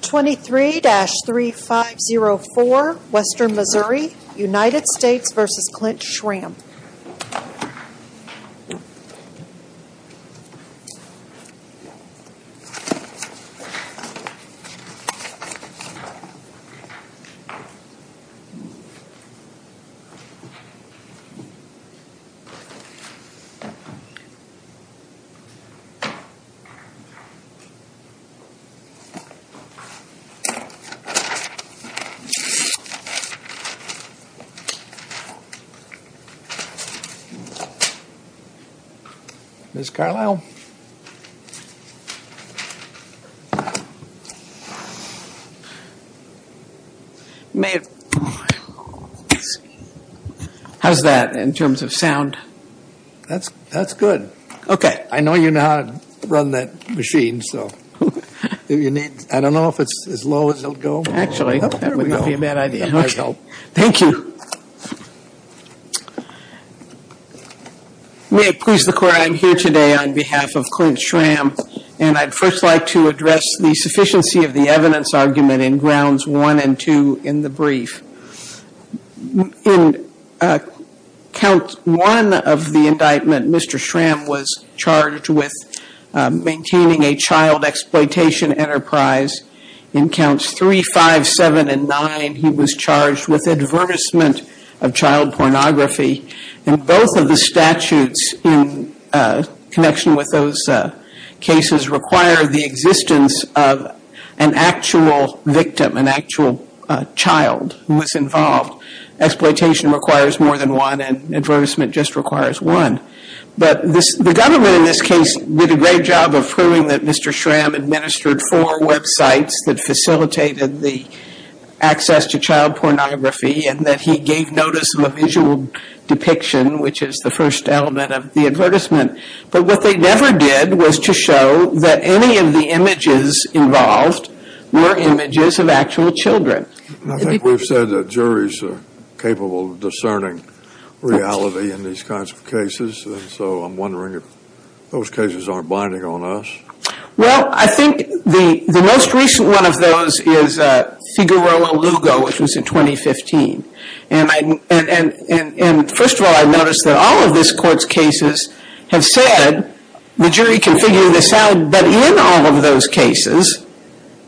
23-3504 Western Missouri United States v. Clint Schram Ms. Carlisle? How's that in terms of sound? That's good. I know you know how to run that machine, so. I don't know if it's as low as it'll go. Actually, that would not be a bad idea. Thank you. May it please the Court, I'm here today on behalf of Clint Schram, and I'd first like to address the sufficiency of the evidence argument in Grounds 1 and 2 in the brief. In Count 1 of the indictment, Mr. Schram was charged with maintaining a child exploitation enterprise. In Counts 3, 5, 7, and 9, he was charged with advertisement of child pornography. And both of the statutes in connection with those cases require the existence of an actual victim, an actual child who was involved. Exploitation requires more than one, and advertisement just requires one. But the government in this case did a great job of proving that Mr. Schram administered four websites that facilitated the access to child pornography, and that he gave notice of a visual depiction, which is the first element of the advertisement. But what they never did was to show that any of the images involved were images of actual children. I think we've said that juries are capable of discerning reality in these kinds of cases, and so I'm wondering if those cases aren't binding on us. Well, I think the most recent one of those is Figueroa Lugo, which was in 2015. And first of all, I noticed that all of this Court's cases have said the jury can figure this out, but in all of those cases,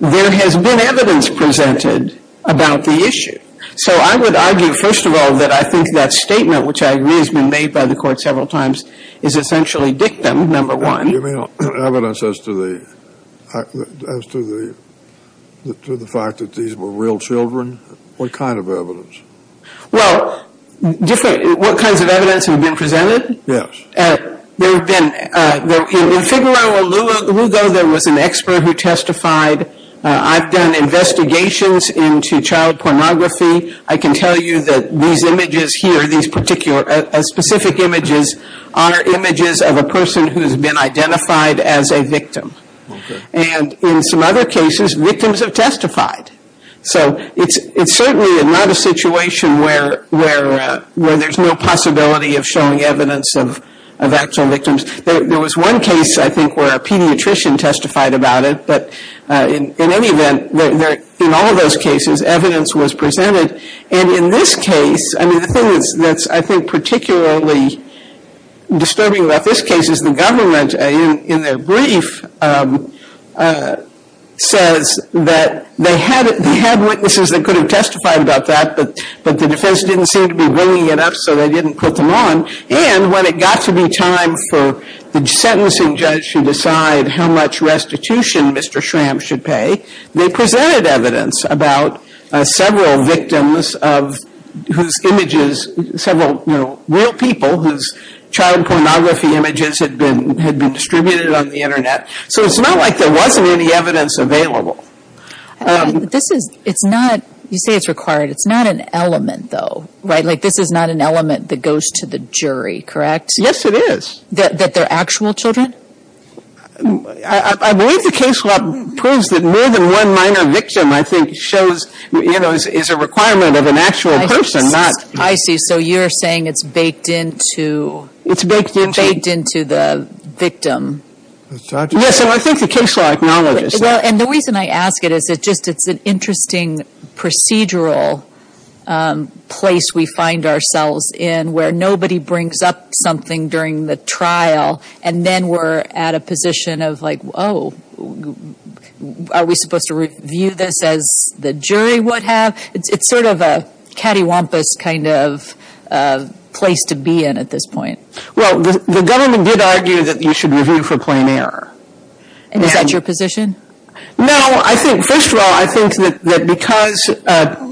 there has been evidence presented about the issue. So I would argue, first of all, that I think that statement, which I agree has been made by the Court several times, is essentially dictum, number one. You mean evidence as to the fact that these were real children? What kind of evidence? Well, what kinds of evidence have been presented? Yes. In Figueroa Lugo, there was an expert who testified. I've done investigations into child pornography. I can tell you that these images here, these specific images, are images of a person who's been identified as a victim. And in some other cases, victims have testified. So it's certainly not a situation where there's no possibility of showing evidence of actual victims. There was one case, I think, where a pediatrician testified about it, but in any event, in all of those cases, evidence was presented. And in this case, I mean, the thing that's, I think, particularly disturbing about this case is the government, in their brief, says that they had witnesses that could have testified about that, but the defense didn't seem to be bringing it up, so they didn't put them on. And when it got to be time for the sentencing judge to decide how much restitution Mr. Schramm should pay, they presented evidence about several victims of whose images, several, you know, real people whose child pornography images had been distributed on the Internet. So it's not like there wasn't any evidence available. This is, it's not, you say it's required. It's not an element, though, right? Like, this is not an element that goes to the jury, correct? Yes, it is. That they're actual children? I believe the case law proves that more than one minor victim, I think, shows, you know, is a requirement of an actual person, not — I see. So you're saying it's baked into — It's baked into — Baked into the victim. Yes. So I think the case law acknowledges that. Well, and the reason I ask it is it just, it's an interesting procedural place we find ourselves in, where nobody brings up something during the trial, and then we're at a position of like, oh, are we supposed to review this as the jury would have? It's sort of a cattywampus kind of place to be in at this point. Well, the government did argue that you should review for plain error. And is that your position? No, I think, first of all, I think that because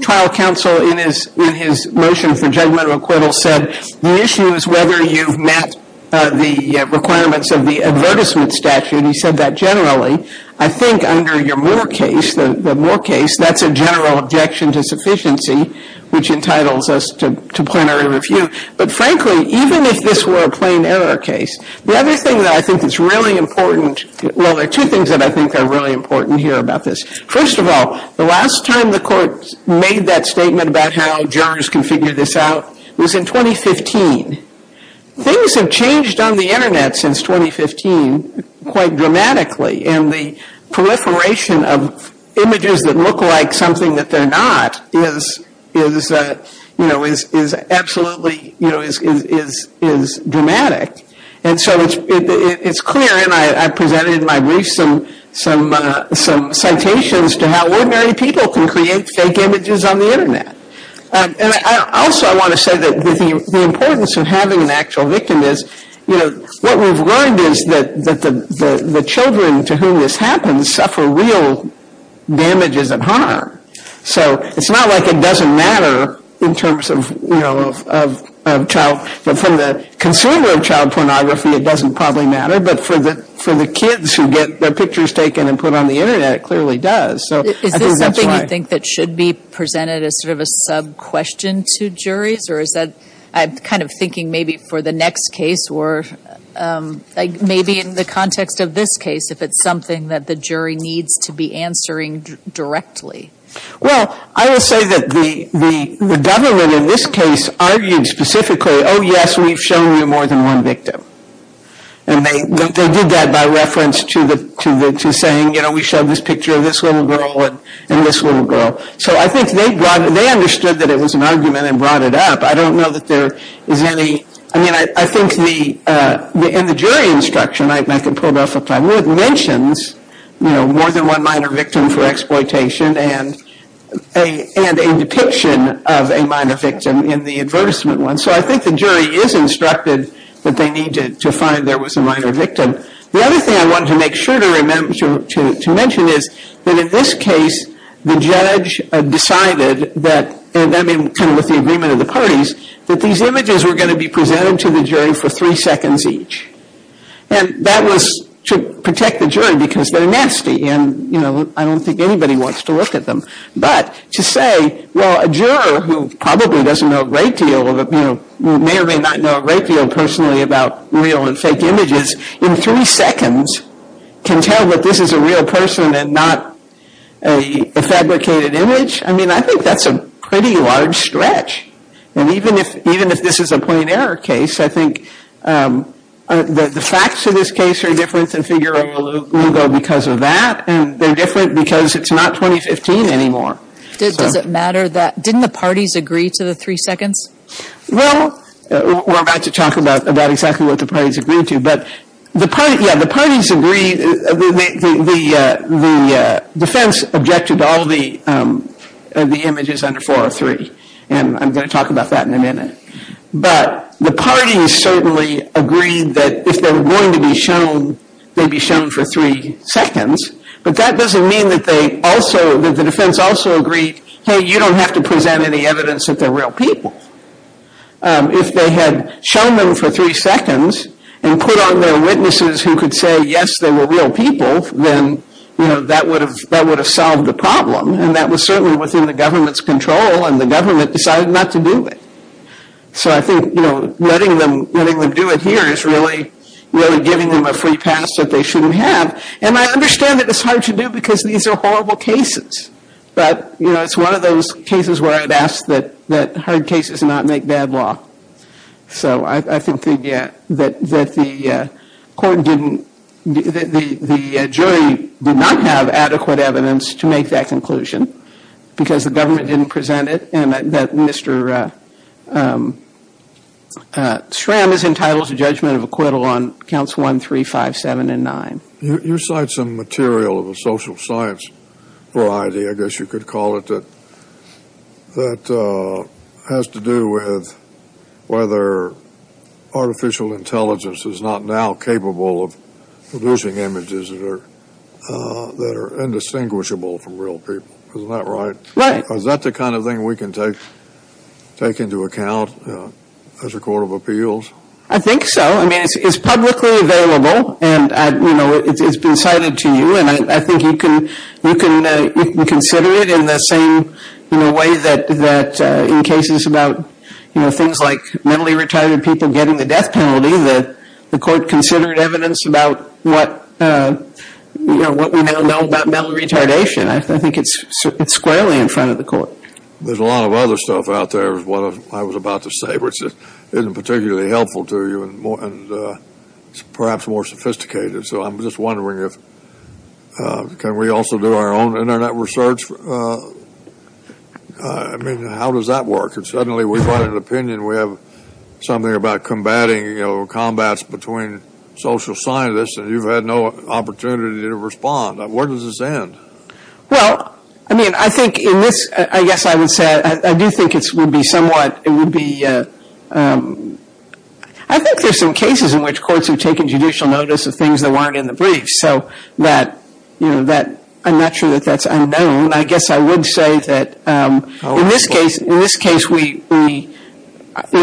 trial counsel, in his motion for judgment of acquittal, said the issue is whether you've met the requirements of the advertisement statute, he said that generally, I think under your Moore case, the Moore case, that's a general objection to sufficiency, which entitles us to plenary review. But frankly, even if this were a plain error case, the other thing that I think is really important, well, there are two things that I think are really important here about this. First of all, the last time the court made that statement about how jurors can figure this out was in 2015. Things have changed on the Internet since 2015 quite dramatically, and the proliferation of images that look like something that they're not is, you know, is absolutely, you know, is dramatic. And so it's clear, and I presented in my brief some citations to how ordinary people can create fake images on the Internet. And also I want to say that the importance of having an actual victim is, you know, what we've learned is that the children to whom this happens suffer real damages and harm. So it's not like it doesn't matter in terms of, you know, of child, from the consumer of child pornography, it doesn't probably matter, but for the kids who get their pictures taken and put on the Internet, it clearly does. So I think that's why. Is this something you think that should be presented as sort of a sub-question to juries, or is that, I'm kind of thinking maybe for the next case, or maybe in the context of this case, if it's something that the jury needs to be answering directly? Well, I will say that the government in this case argued specifically, oh, yes, we've shown you more than one victim. And they did that by reference to saying, you know, we showed this picture of this little girl and this little girl. So I think they understood that it was an argument and brought it up. I don't know that there is any, I mean, I think in the jury instruction, and I can pull it off if I would, mentions, you know, more than one minor victim for exploitation and a depiction of a minor victim in the advertisement one. So I think the jury is instructed that they need to find there was a minor victim. The other thing I wanted to make sure to mention is that in this case, the judge decided that, and I mean kind of with the agreement of the parties, that these images were going to be presented to the jury for three seconds each. And that was to protect the jury because they're nasty. And, you know, I don't think anybody wants to look at them. But to say, well, a juror who probably doesn't know a great deal, may or may not know a great deal personally about real and fake images, in three seconds can tell that this is a real person and not a fabricated image? I mean, I think that's a pretty large stretch. And even if this is a point error case, I think the facts of this case are different than figuring a logo because of that, and they're different because it's not 2015 anymore. Does it matter that, didn't the parties agree to the three seconds? Well, we're about to talk about exactly what the parties agreed to. But, yeah, the parties agreed, the defense objected to all the images under 403. And I'm going to talk about that in a minute. But the parties certainly agreed that if they were going to be shown, they'd be shown for three seconds. But that doesn't mean that they also, that the defense also agreed, hey, you don't have to present any evidence that they're real people. If they had shown them for three seconds and put on their witnesses who could say, yes, they were real people, then, you know, that would have solved the problem. And that was certainly within the government's control, and the government decided not to do it. So I think, you know, letting them do it here is really giving them a free pass that they shouldn't have. And I understand that it's hard to do because these are horrible cases. But, you know, it's one of those cases where I'd ask that hard cases not make bad law. So I think that the court didn't, that the jury did not have adequate evidence to make that conclusion because the government didn't present it and that Mr. Schramm is entitled to judgment of acquittal on counts 1, 3, 5, 7, and 9. You cite some material of a social science variety, I guess you could call it, that has to do with whether artificial intelligence is not now capable of producing images that are indistinguishable from real people. Isn't that right? Right. Is that the kind of thing we can take into account as a court of appeals? I think so. I mean, it's publicly available and, you know, it's been cited to you. And I think you can consider it in the same way that in cases about, you know, things like mentally retarded people getting the death penalty, the court considered evidence about what we now know about mental retardation. I think it's squarely in front of the court. There's a lot of other stuff out there is what I was about to say, which isn't particularly helpful to you and perhaps more sophisticated. So I'm just wondering if, can we also do our own Internet research? I mean, how does that work? If suddenly we find an opinion, we have something about combating, you know, combats between social scientists and you've had no opportunity to respond. Where does this end? Well, I mean, I think in this, I guess I would say, I do think it would be somewhat, it would be, I think there's some cases in which courts have taken judicial notice of things that weren't in the brief. So that, you know, I'm not sure that that's unknown. I guess I would say that in this case, we, you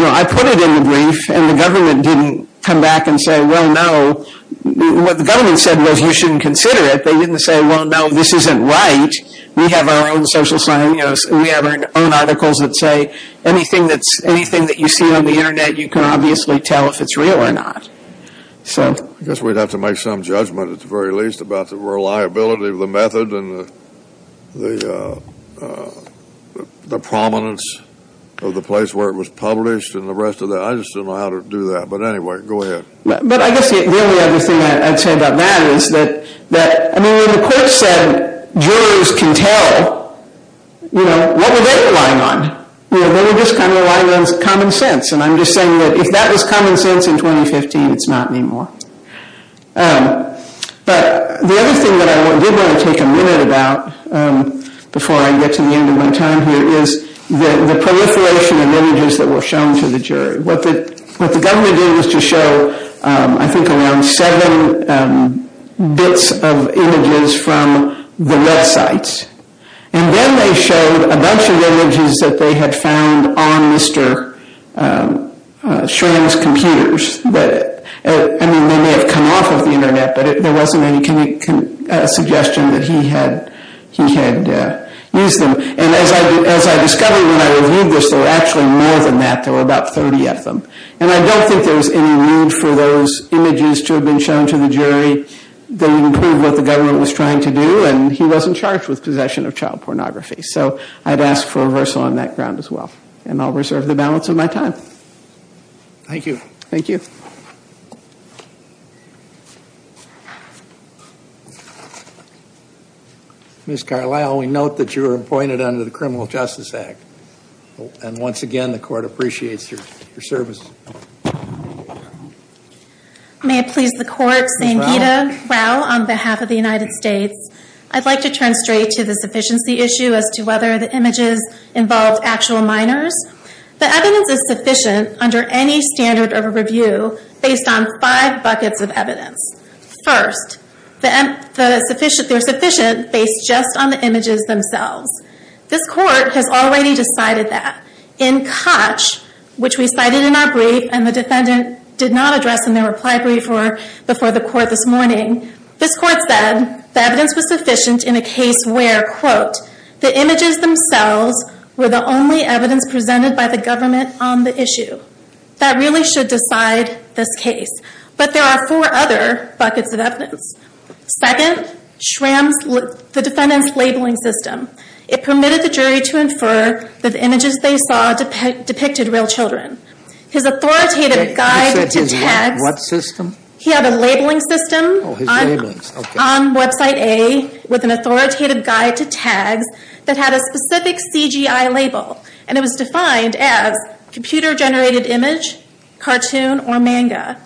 know, I put it in the brief and the government didn't come back and say, well, no. What the government said was you shouldn't consider it. They didn't say, well, no, this isn't right. We have our own social scientists and we have our own articles that say anything that's, anything that you see on the Internet, you can obviously tell if it's real or not. So. I guess we'd have to make some judgment at the very least about the reliability of the method and the prominence of the place where it was published and the rest of that. I just don't know how to do that. But anyway, go ahead. But I guess the only other thing I'd say about that is that, I mean, when the court said jurors can tell, you know, what were they relying on? They were just kind of relying on common sense. And I'm just saying that if that was common sense in 2015, it's not anymore. But the other thing that I did want to take a minute about before I get to the end of my time here is the proliferation of images that were shown to the jury. What the government did was to show, I think, around seven bits of images from the website. And then they showed a bunch of images that they had found on Mr. Schramm's computers. I mean, they may have come off of the Internet, but there wasn't any suggestion that he had used them. And as I discovered when I reviewed this, there were actually more than that. There were about 30 of them. And I don't think there was any need for those images to have been shown to the jury. They didn't prove what the government was trying to do, and he wasn't charged with possession of child pornography. So I'd ask for a reversal on that ground as well. And I'll reserve the balance of my time. Thank you. Thank you. Ms. Carlisle, we note that you were appointed under the Criminal Justice Act. And once again, the court appreciates your service. May it please the court, Sangeeta Rao, on behalf of the United States, I'd like to turn straight to the sufficiency issue as to whether the images involved actual minors. The evidence is sufficient under any standard of review. Based on five buckets of evidence. First, they're sufficient based just on the images themselves. This court has already decided that. In Koch, which we cited in our brief and the defendant did not address in their reply brief before the court this morning, this court said the evidence was sufficient in a case where, quote, the images themselves were the only evidence presented by the government on the issue. That really should decide this case. But there are four other buckets of evidence. Second, the defendant's labeling system. It permitted the jury to infer that the images they saw depicted real children. His authoritative guide to tags. What system? He had a labeling system on website A with an authoritative guide to tags that had a specific CGI label. And it was defined as computer generated image, cartoon, or manga.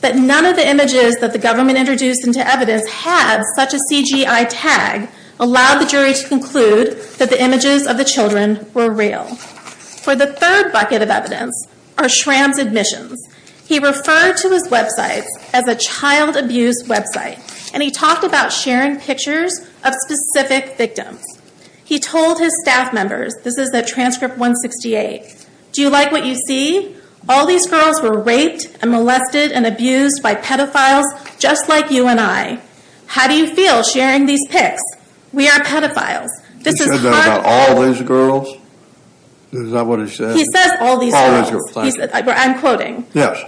But none of the images that the government introduced into evidence had such a CGI tag, allowed the jury to conclude that the images of the children were real. For the third bucket of evidence are Schramm's admissions. He referred to his websites as a child abuse website. And he talked about sharing pictures of specific victims. He told his staff members, this is at transcript 168, do you like what you see? All these girls were raped and molested and abused by pedophiles just like you and I. How do you feel sharing these pics? We are pedophiles. This is hardcore. He said that about all these girls? Is that what he said? He says all these girls. All these girls. I'm quoting. Yes.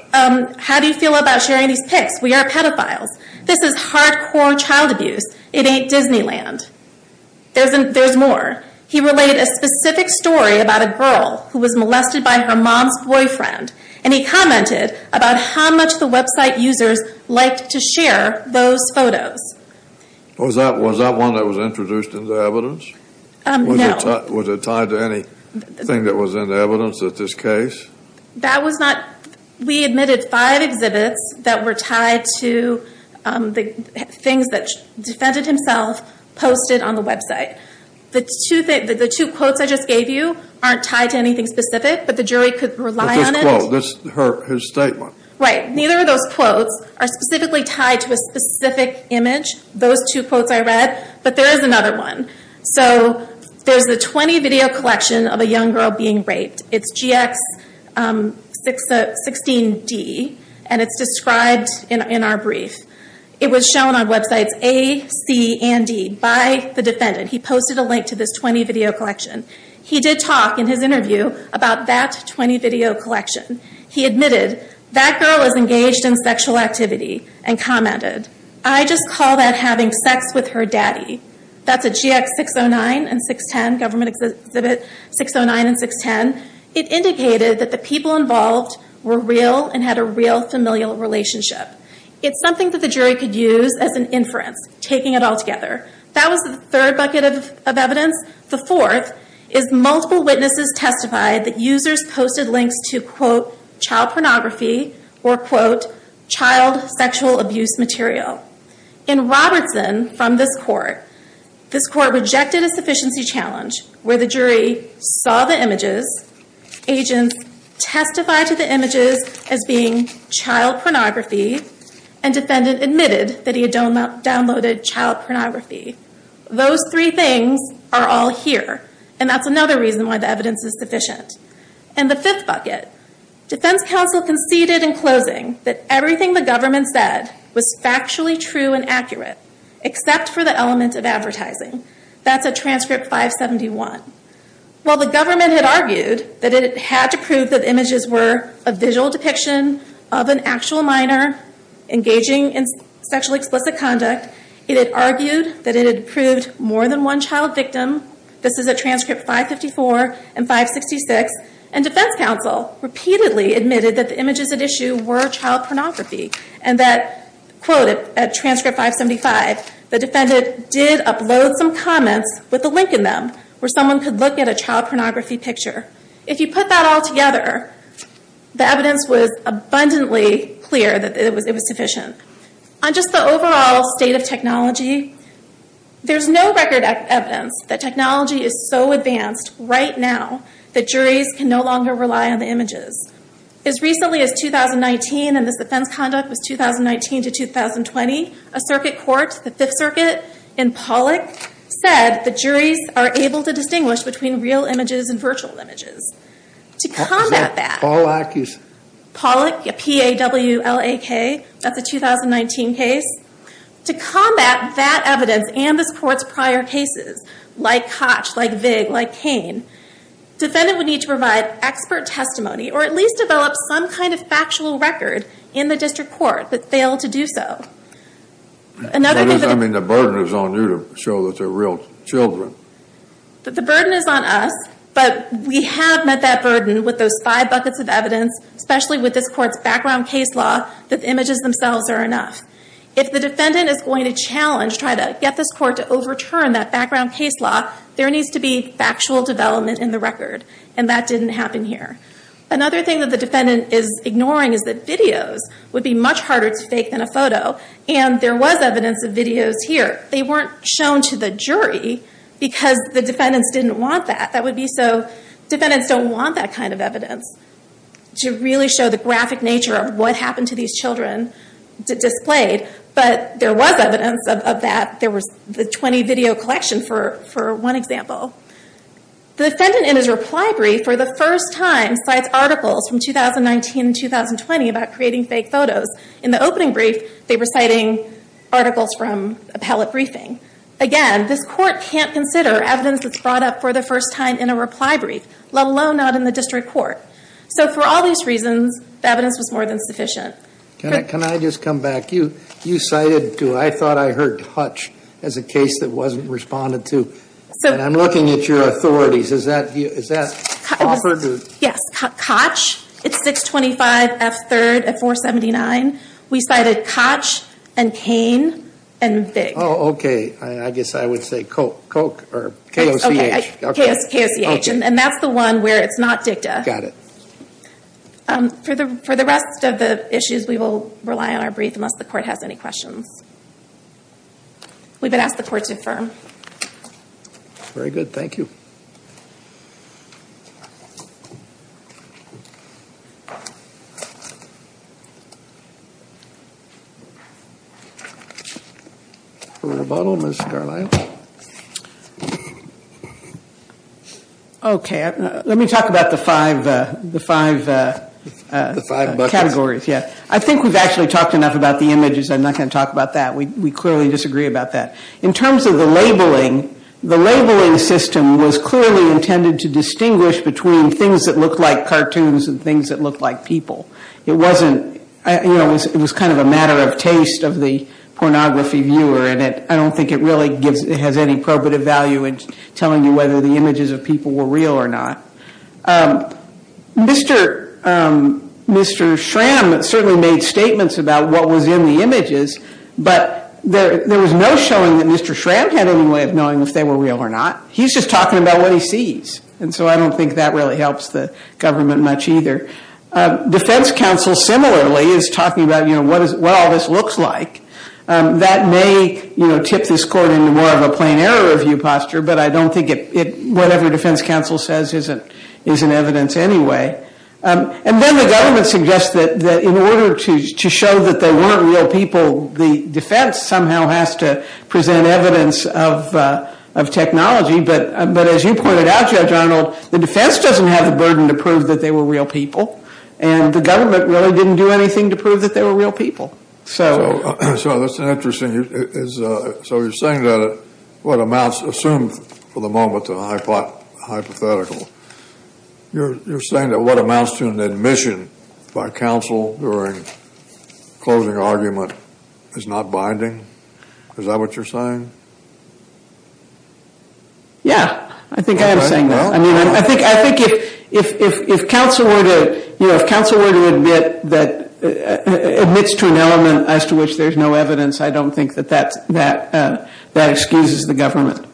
How do you feel about sharing these pics? We are pedophiles. This is hardcore child abuse. It ain't Disneyland. There's more. He related a specific story about a girl who was molested by her mom's boyfriend. And he commented about how much the website users liked to share those photos. Was that one that was introduced into evidence? No. Was it tied to anything that was in evidence at this case? We admitted five exhibits that were tied to things that defended himself posted on the website. The two quotes I just gave you aren't tied to anything specific, but the jury could rely on it. That's his statement. Right. Neither of those quotes are specifically tied to a specific image. Those two quotes I read. But there is another one. So there's a 20 video collection of a young girl being raped. It's GX16D. And it's described in our brief. It was shown on websites A, C, and D by the defendant. He posted a link to this 20 video collection. He did talk in his interview about that 20 video collection. He admitted, that girl was engaged in sexual activity and commented, I just call that having sex with her daddy. That's a GX609 and 610. Government exhibit 609 and 610. It indicated that the people involved were real and had a real familial relationship. It's something that the jury could use as an inference, taking it all together. That was the third bucket of evidence. The fourth is multiple witnesses testified that users posted links to, quote, child pornography or, quote, child sexual abuse material. In Robertson, from this court, this court rejected a sufficiency challenge, where the jury saw the images. Agents testified to the images as being child pornography. And defendant admitted that he had downloaded child pornography. Those three things are all here. And that's another reason why the evidence is sufficient. In the fifth bucket, defense counsel conceded in closing, that everything the government said was factually true and accurate, except for the element of advertising. That's a transcript 571. While the government had argued that it had to prove that the images were a visual depiction of an actual minor engaging in sexually explicit conduct, it had argued that it had proved more than one child victim. This is a transcript 554 and 566. And defense counsel repeatedly admitted that the images at issue were child pornography and that, quote, at transcript 575, the defendant did upload some comments with a link in them where someone could look at a child pornography picture. If you put that all together, the evidence was abundantly clear that it was sufficient. On just the overall state of technology, there's no record of evidence that technology is so advanced right now that juries can no longer rely on the images. As recently as 2019, and this defense conduct was 2019 to 2020, a circuit court, the Fifth Circuit, in Pollack, said the juries are able to distinguish between real images and virtual images. To combat that, Pollack, P-A-W-L-A-K, that's a 2019 case. To combat that evidence and this court's prior cases, like Koch, like Vig, like Cain, defendant would need to provide expert testimony or at least develop some kind of factual record in the district court that failed to do so. I mean, the burden is on you to show that they're real children. The burden is on us, but we have met that burden with those five buckets of evidence, especially with this court's background case law, that the images themselves are enough. If the defendant is going to challenge, try to get this court to overturn that background case law, there needs to be factual development in the record, and that didn't happen here. Another thing that the defendant is ignoring is that videos would be much harder to fake than a photo, and there was evidence of videos here. They weren't shown to the jury because the defendants didn't want that. That would be so, defendants don't want that kind of evidence to really show the graphic nature of what happened to these children displayed, but there was evidence of that. There was the 20 video collection for one example. The defendant in his reply brief for the first time cites articles from 2019 and 2020 about creating fake photos. In the opening brief, they were citing articles from appellate briefing. Again, this court can't consider evidence that's brought up for the first time in a reply brief, let alone not in the district court. For all these reasons, the evidence was more than sufficient. Can I just come back? You cited, I thought I heard Hutch as a case that wasn't responded to, and I'm looking at your authorities. Is that offered? Yes. Koch, it's 625 F3rd at 479. We cited Koch and Cain and Bigg. Oh, okay. I guess I would say Koch or K-O-C-H. K-O-C-H, and that's the one where it's not dicta. Got it. For the rest of the issues, we will rely on our brief unless the court has any questions. We would ask the court to affirm. Very good. Thank you. For rebuttal, Ms. Garland. Okay. Let me talk about the five categories. I think we've actually talked enough about the images. I'm not going to talk about that. We clearly disagree about that. In terms of the labeling, the labeling system was clearly intended to distinguish between things that look like cartoons and things that look like people. It wasn't, you know, it was kind of a matter of taste of the pornography viewer, and I don't think it really has any probative value in telling you whether the images of people were real or not. Mr. Schramm certainly made statements about what was in the images, but there was no showing that Mr. Schramm had any way of knowing if they were real or not. He's just talking about what he sees, and so I don't think that really helps the government much either. Defense counsel similarly is talking about, you know, what all this looks like. That may, you know, tip this court into more of a plain error review posture, but I don't think it, whatever defense counsel says isn't evidence anyway. And then the government suggests that in order to show that they weren't real people, the defense somehow has to present evidence of technology, but as you pointed out, Judge Arnold, the defense doesn't have the burden to prove that they were real people, and the government really didn't do anything to prove that they were real people. So that's interesting. So you're saying that what amounts assumed for the moment to a hypothetical, you're saying that what amounts to an admission by counsel during closing argument is not binding? Is that what you're saying? Yeah, I think I am saying that. I mean, I think if counsel were to, you know, if counsel were to admit that, admits to an element as to which there's no evidence, I don't think that that excuses the government.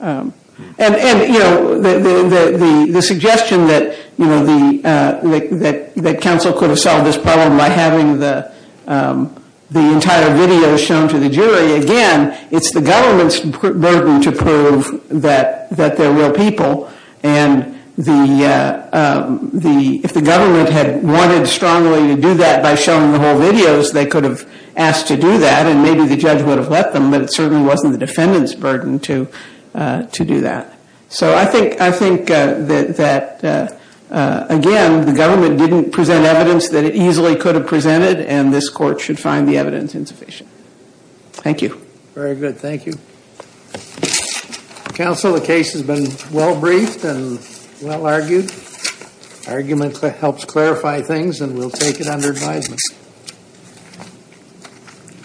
And, you know, the suggestion that, you know, that counsel could have solved this problem by having the entire video shown to the jury, again, it's the government's burden to prove that they're real people, and if the government had wanted strongly to do that by showing the whole videos, they could have asked to do that, and maybe the judge would have let them, but it certainly wasn't the defendant's burden to do that. So I think that, again, the government didn't present evidence that it easily could have presented, and this court should find the evidence insufficient. Thank you. Very good. Thank you. Counsel, the case has been well-briefed and well-argued. Argument helps clarify things, and we'll take it under advisement.